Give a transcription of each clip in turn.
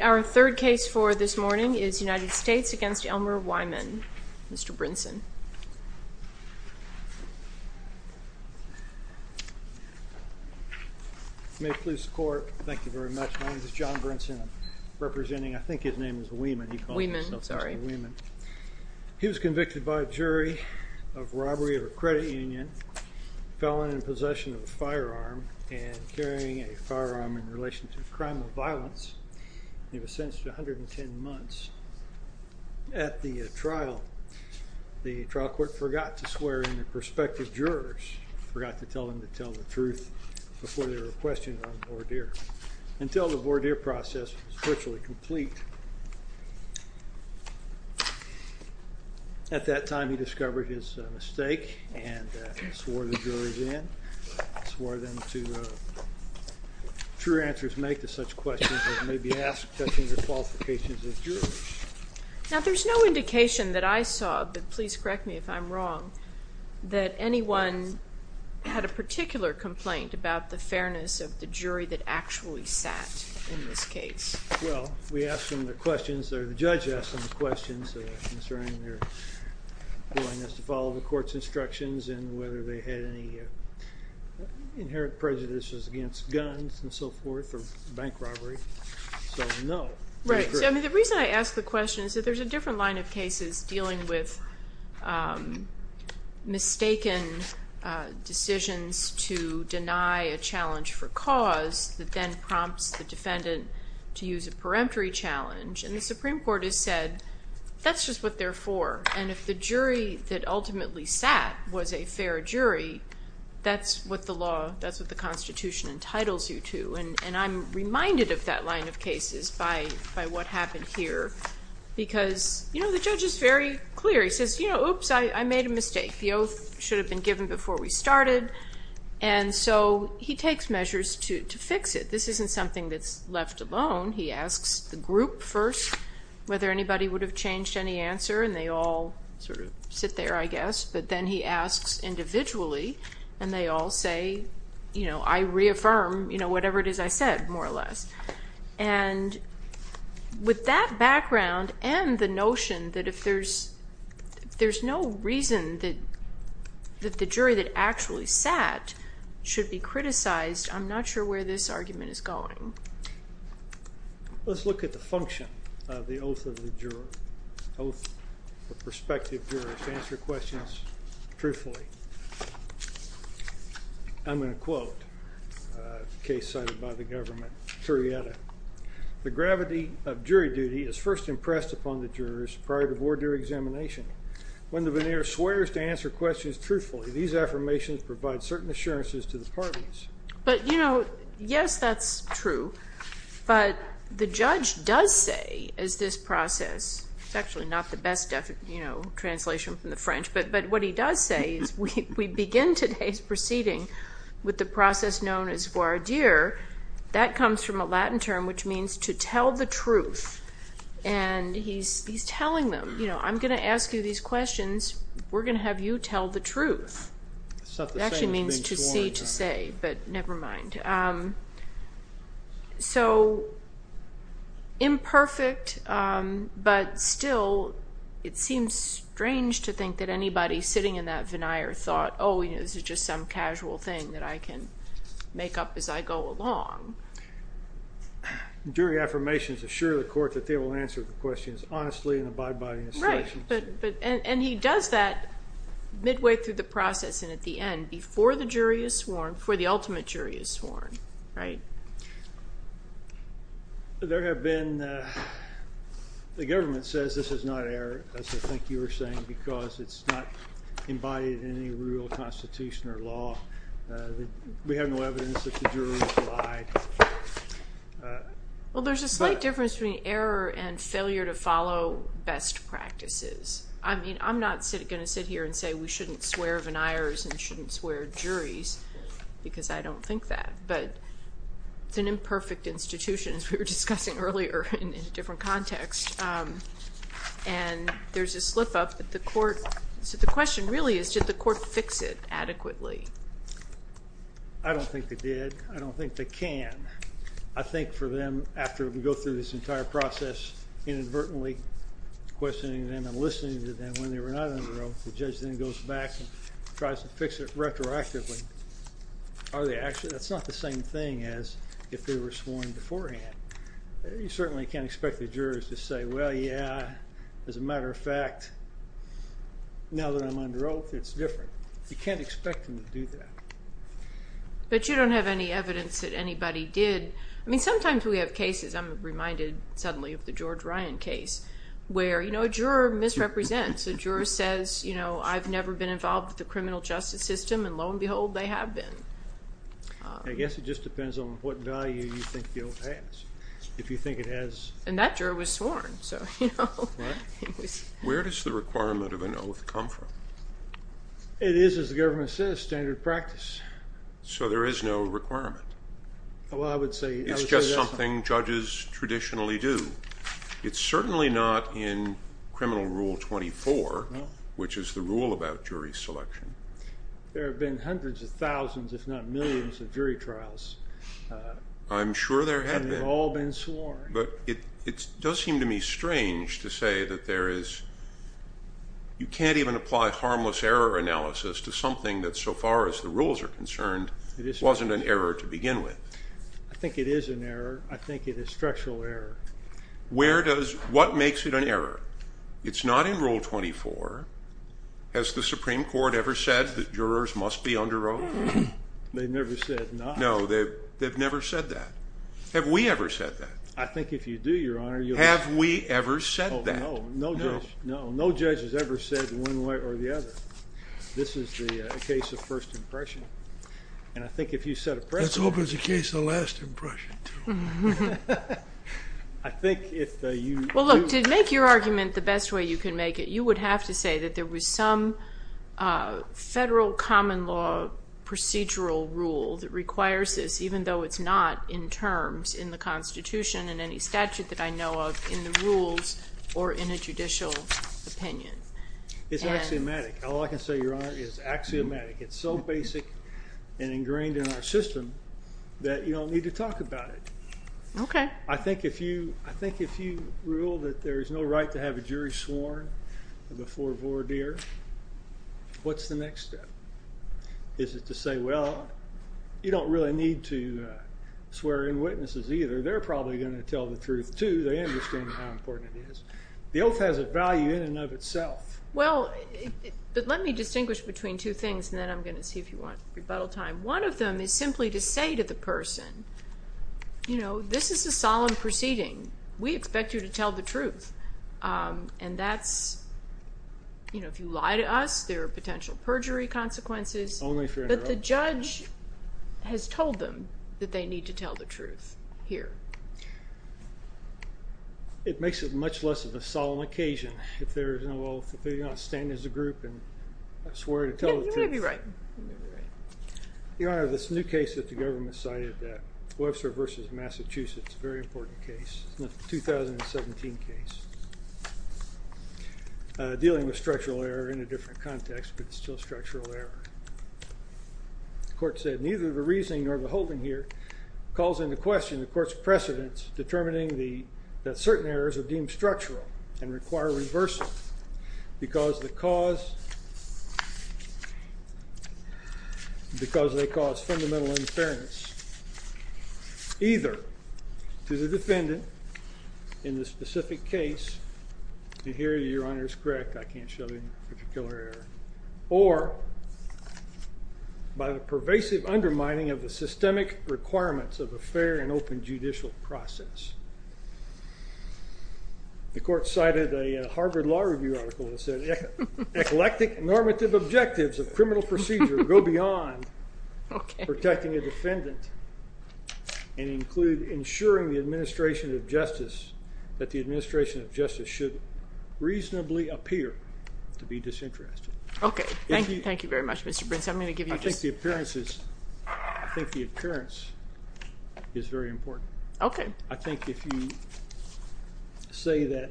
Our third case for this morning is United States v. Elmer Wiman. Mr. Brinson. May it please the court. Thank you very much. My name is John Brinson, representing I think his name is Wiman. He was convicted by a jury of robbery of a credit union, felon in possession of a firearm, and carrying a firearm in relation to a crime of violence. He was sentenced to trial. The trial court forgot to swear in the prospective jurors, forgot to tell them to tell the truth before they were questioned on voir dire, until the voir dire process was virtually complete. At that time, he discovered his mistake and swore the jurors in, swore them to true answers make to such questions as may be asked touching the qualifications of jurors. Now, there's no indication that I saw, but please correct me if I'm wrong, that anyone had a particular complaint about the fairness of the jury that actually sat in this case. Well, we asked them the questions, or the judge asked them the questions concerning their willingness to follow the court's instructions and whether they had any inherent prejudices against guns and so forth or bank robbery. So no. Right. I mean, the reason I asked the question is that there's a different line of cases dealing with mistaken decisions to deny a challenge for cause that then prompts the defendant to use a peremptory challenge. And the Supreme Court has said that's just what they're for. And if the jury that ultimately sat was a fair jury, that's what the law, that's what the Constitution entitles you to. And I'm reminded of that line of cases by what happened here. Because, you know, the judge is very clear. He says, you know, oops, I made a mistake. The oath should have been given before we started. And so he takes measures to fix it. This isn't something that's left alone. He asks the group first whether anybody would have changed any answer, and they all sort of sit there, I guess. But then he asks individually, and they all say, you know, I reaffirm, you know, whatever it is I said, more or less. And with that background and the notion that if there's, there's no reason that the jury that actually sat should be criticized, I'm not sure where this argument is going. Let's look at the function of the oath of perspective jurors to answer questions truthfully. I'm going to quote a case cited by the government, Turrietta. The gravity of jury duty is first impressed upon the jurors prior to board your examination. When the veneer swears to answer questions truthfully, these affirmations provide certain assurances to the parties. But, you know, yes, that's true. But the judge does say, as this process, it's actually not the best, you know, translation from the French, but what he does say is we begin today's proceeding with the process known as voir dire. That comes from a Latin term, which means to tell the truth. And he's telling them, you know, I'm going to ask you these questions. We're going to have you tell the truth. It actually means to see, to say, but never mind. So, imperfect, but still, it seems strange to think that anybody sitting in that veneer thought, oh, you know, this is just some casual thing that I can make up as I go along. Jury affirmations assure the court that they will answer the questions honestly and abide by the instructions. And he does that midway through the process and at the end, before the jury is sworn, before the ultimate jury is sworn, right? There have been, the government says this is not error, as I think you were saying, because it's not embodied in any rule, constitution, or law. We have no evidence that the jury lied. Well, there's a slight difference between error and failure to follow best practices. I mean, I'm not going to sit here and say we shouldn't swear veneers and shouldn't swear juries, because I don't think that, but it's an imperfect institution, as we were discussing earlier in a different context. And there's a slip up that the court, so the question really is, did the court fix it adequately? I don't think they did. I don't think they can. I think for them, after we go through this entire process, inadvertently questioning them and listening to them when they were not under oath, the judge then goes back and tries to fix it retroactively. Are they actually, that's not the same thing as if they were sworn beforehand. You certainly can't expect the jurors to say, well, yeah, as a matter of fact, now that I'm under oath, it's different. You can't expect them to do that. But you don't have any evidence that anybody did. I mean, sometimes we have cases, I'm reminded suddenly of the George Ryan case, where a juror misrepresents. A juror says, I've never been involved with the criminal justice system, and lo and behold, they have been. I guess it just depends on what value you think the oath has. If you think it has... And that juror was sworn, so... Where does the requirement of an oath come from? It is, as the government says, standard practice. So there is no requirement. Well, I would say... It's just something judges traditionally do. It's certainly not in Criminal Rule 24, which is the rule about jury selection. There have been hundreds of thousands, if not millions, of jury trials. I'm sure there have been. And they've all been sworn. But it does seem to me strange to say that there is... You can't even apply harmless error analysis to something that, so far as the rules are concerned, wasn't an error to begin with. I think it is an error. I think it is structural error. Where does... What makes it an error? It's not in Rule 24. Has the Supreme Court ever said that jurors must be under oath? They've never said not. No, they've never said that. Have we ever said that? I think if you do, Your Honor, you'll... Have we ever said that? No, no judge has ever said one way or the other. This is a case of first impression. And I think if you set a precedent... Let's hope it's a case of last impression, too. I think if you... Well, look, to make your argument the best way you can make it, you would have to say that there was some federal common law procedural rule that requires this, even though it's not in terms in the Constitution and any statute that I know of in the rules or in a judicial opinion. It's axiomatic. All I can say, Your Honor, is axiomatic. It's so basic and ingrained in our system that you don't need to talk about it. Okay. I think if you rule that there is no right to have a jury sworn before voir dire, what's the next step? Is it to say, well, you don't really need to swear in witnesses either. They're probably going to tell the truth, too. They understand how important it is. The oath has a value in and of itself. Well, but let me distinguish between two things, and then I'm going to see if you want rebuttal time. One of them is simply to say to the person, you know, this is a solemn proceeding. We expect you to tell the truth, and that's, you know, if you lie to us, there are potential perjury consequences. Only if you're in a row. But the judge has told them that they need to tell the truth here. It makes it much less of a solemn occasion if there is no oath, if they're going to stand as a group and swear to tell the truth. You may be right. You may be right. Your Honor, this new case that the government cited, Webster v. Massachusetts, a very important case. It's a 2017 case dealing with structural error in a different context, but it's still structural error. The court said, neither the reasoning nor the holding here calls into question the court's precedence determining that certain errors are deemed structural and require reversal because they cause fundamental unfairness, either to the defendant in the specific case, and here your Honor is correct, I can't show any particular error, or by the pervasive undermining of the systemic requirements of a fair and open judicial process. The court cited a Harvard Law Review article that said eclectic normative objectives of criminal procedure go beyond protecting a defendant and include ensuring the administration of justice, that the administration of justice should reasonably appear to be disinterested. Okay. Thank you very much, Mr. Brinson. I'm going to give you just... I think the appearance is very important. Okay. I think if you say that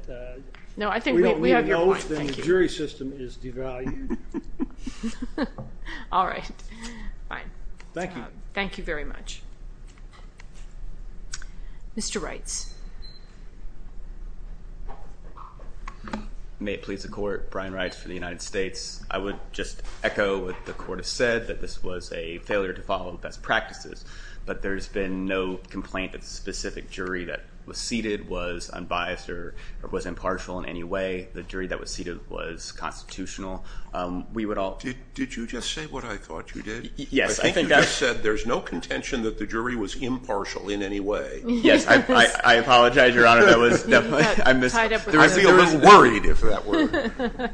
we don't need an oath, then the jury system is devalued. All right. Fine. Thank you. Thank you very much. Mr. Reitz. May it please the court, Brian Reitz for the United States. I would just echo what the court has said, that this was a failure to follow the best practices, but there's been no complaint that the specific jury that was seated was unbiased or was impartial in any way. The jury that was seated was constitutional. We would all... Did you just say what I thought you did? Yes. I think you just said there's no contention that the jury was impartial in any way. Yes. I apologize, Your Honor. That was definitely... Tied up with... I was worried if that were...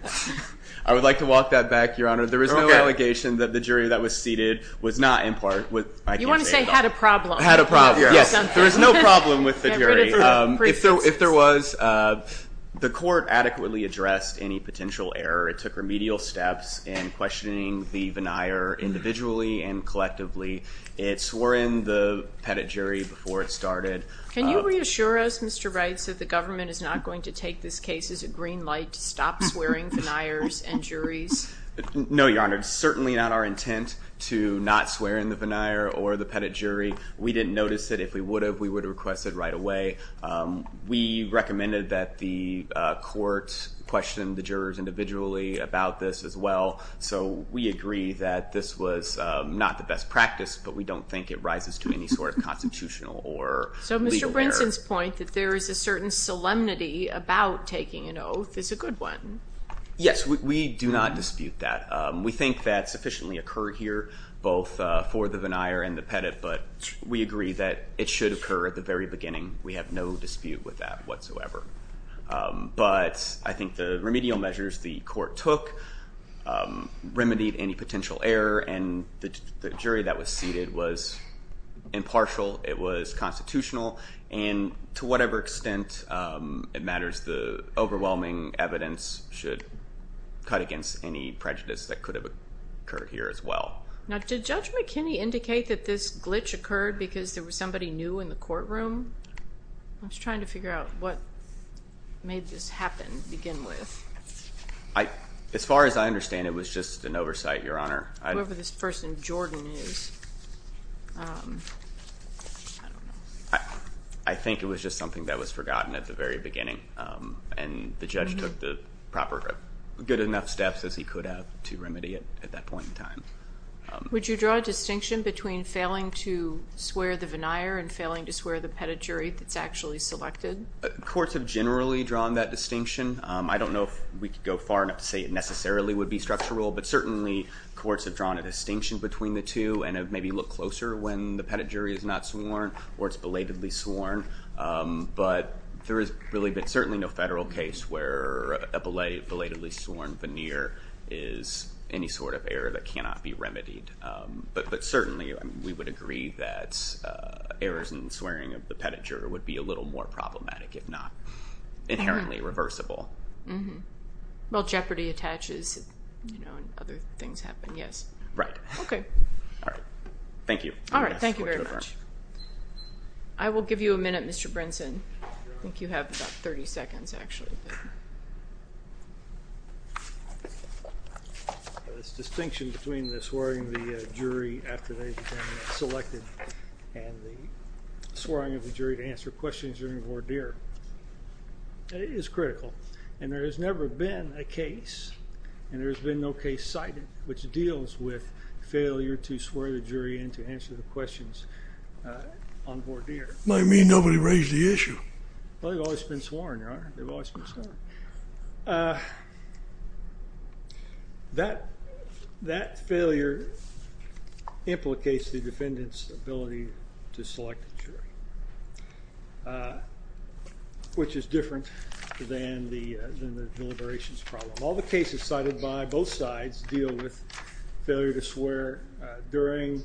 I would like to walk that back, Your Honor. There is no allegation that the jury that was seated was not impartial. You want to say had a problem. Had a problem. Yes. There was no problem with the jury. If there was, the court adequately addressed any potential error. It took remedial steps in questioning the veneer individually and collectively. It swore in the pettit jury before it started. Can you reassure us, Mr. Reitz, that the government is not going to take this case as a green light to stop swearing veneers and juries? No, Your Honor. It's certainly not our intent to not swear in the veneer or the pettit jury. We didn't notice it. If we would have, we would have requested it right away. We recommended that the court question the jurors individually about this as well, so we agree that this was not the best practice, but we don't think it rises to any sort of constitutional or legal error. So Mr. Brinson's point that there is a certain solemnity about taking an oath is a good one. Yes, we do not dispute that. We think that sufficiently occurred here, both for the veneer and the pettit, but we agree that it should occur at the very beginning. We have no dispute with that whatsoever. But I think the remedial measures the court took remedied any potential error, and the jury that was seated was impartial. It was constitutional, and to whatever extent it matters, the overwhelming evidence should cut against any prejudice that could have occurred here as well. Now, did Judge McKinney indicate that this glitch occurred because there was somebody new in the courtroom? I was trying to figure out what made this happen to begin with. As far as I understand, it was just an oversight, Your Honor. Whoever this person, Jordan, is. I don't know. I think it was just something that was forgotten at the very beginning, and the judge took the proper good enough steps as he could have to remedy it at that point in time. Would you draw a distinction between failing to swear the veneer and failing to swear the pettit jury that's actually selected? Courts have generally drawn that distinction. I don't know if we could go far enough to say it necessarily would be structural, but certainly courts have drawn a distinction between the two and have maybe looked closer when the pettit jury is not sworn or it's belatedly sworn. But there has really been certainly no federal case where a belatedly sworn veneer is any sort of error that cannot be remedied. But certainly we would agree that errors in swearing of the pettit jury would be a little more problematic, if not inherently reversible. Well, jeopardy attaches and other things happen, yes. Right. Okay. All right. Thank you. All right. Thank you very much. I will give you a minute, Mr. Brinson. I think you have about 30 seconds, actually. This distinction between the swearing of the jury after they've been selected and the swearing of the jury to answer questions during a voir dire is critical. And there has never been a case, and there has been no case cited, which deals with failure to swear the jury and to answer the questions on voir dire. It might mean nobody raised the issue. Well, they've always been sworn, Your Honor. They've always been sworn. That failure implicates the defendant's ability to select a jury, which is different than the deliberations problem. All the cases cited by both sides deal with failure to swear during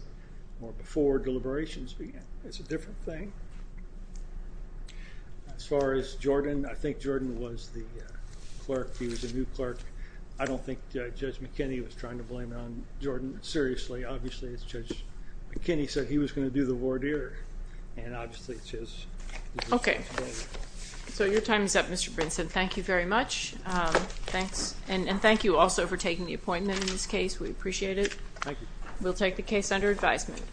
or before deliberations begin. It's a different thing. As far as Jordan, I think Jordan was the clerk. He was the new clerk. I don't think Judge McKinney was trying to blame it on Jordan. Seriously, obviously, Judge McKinney said he was going to do the voir dire, and obviously it's his decision today. Okay. So your time is up, Mr. Brinson. Thank you very much. And thank you also for taking the appointment in this case. We appreciate it. Thank you. We'll take the case under advisement.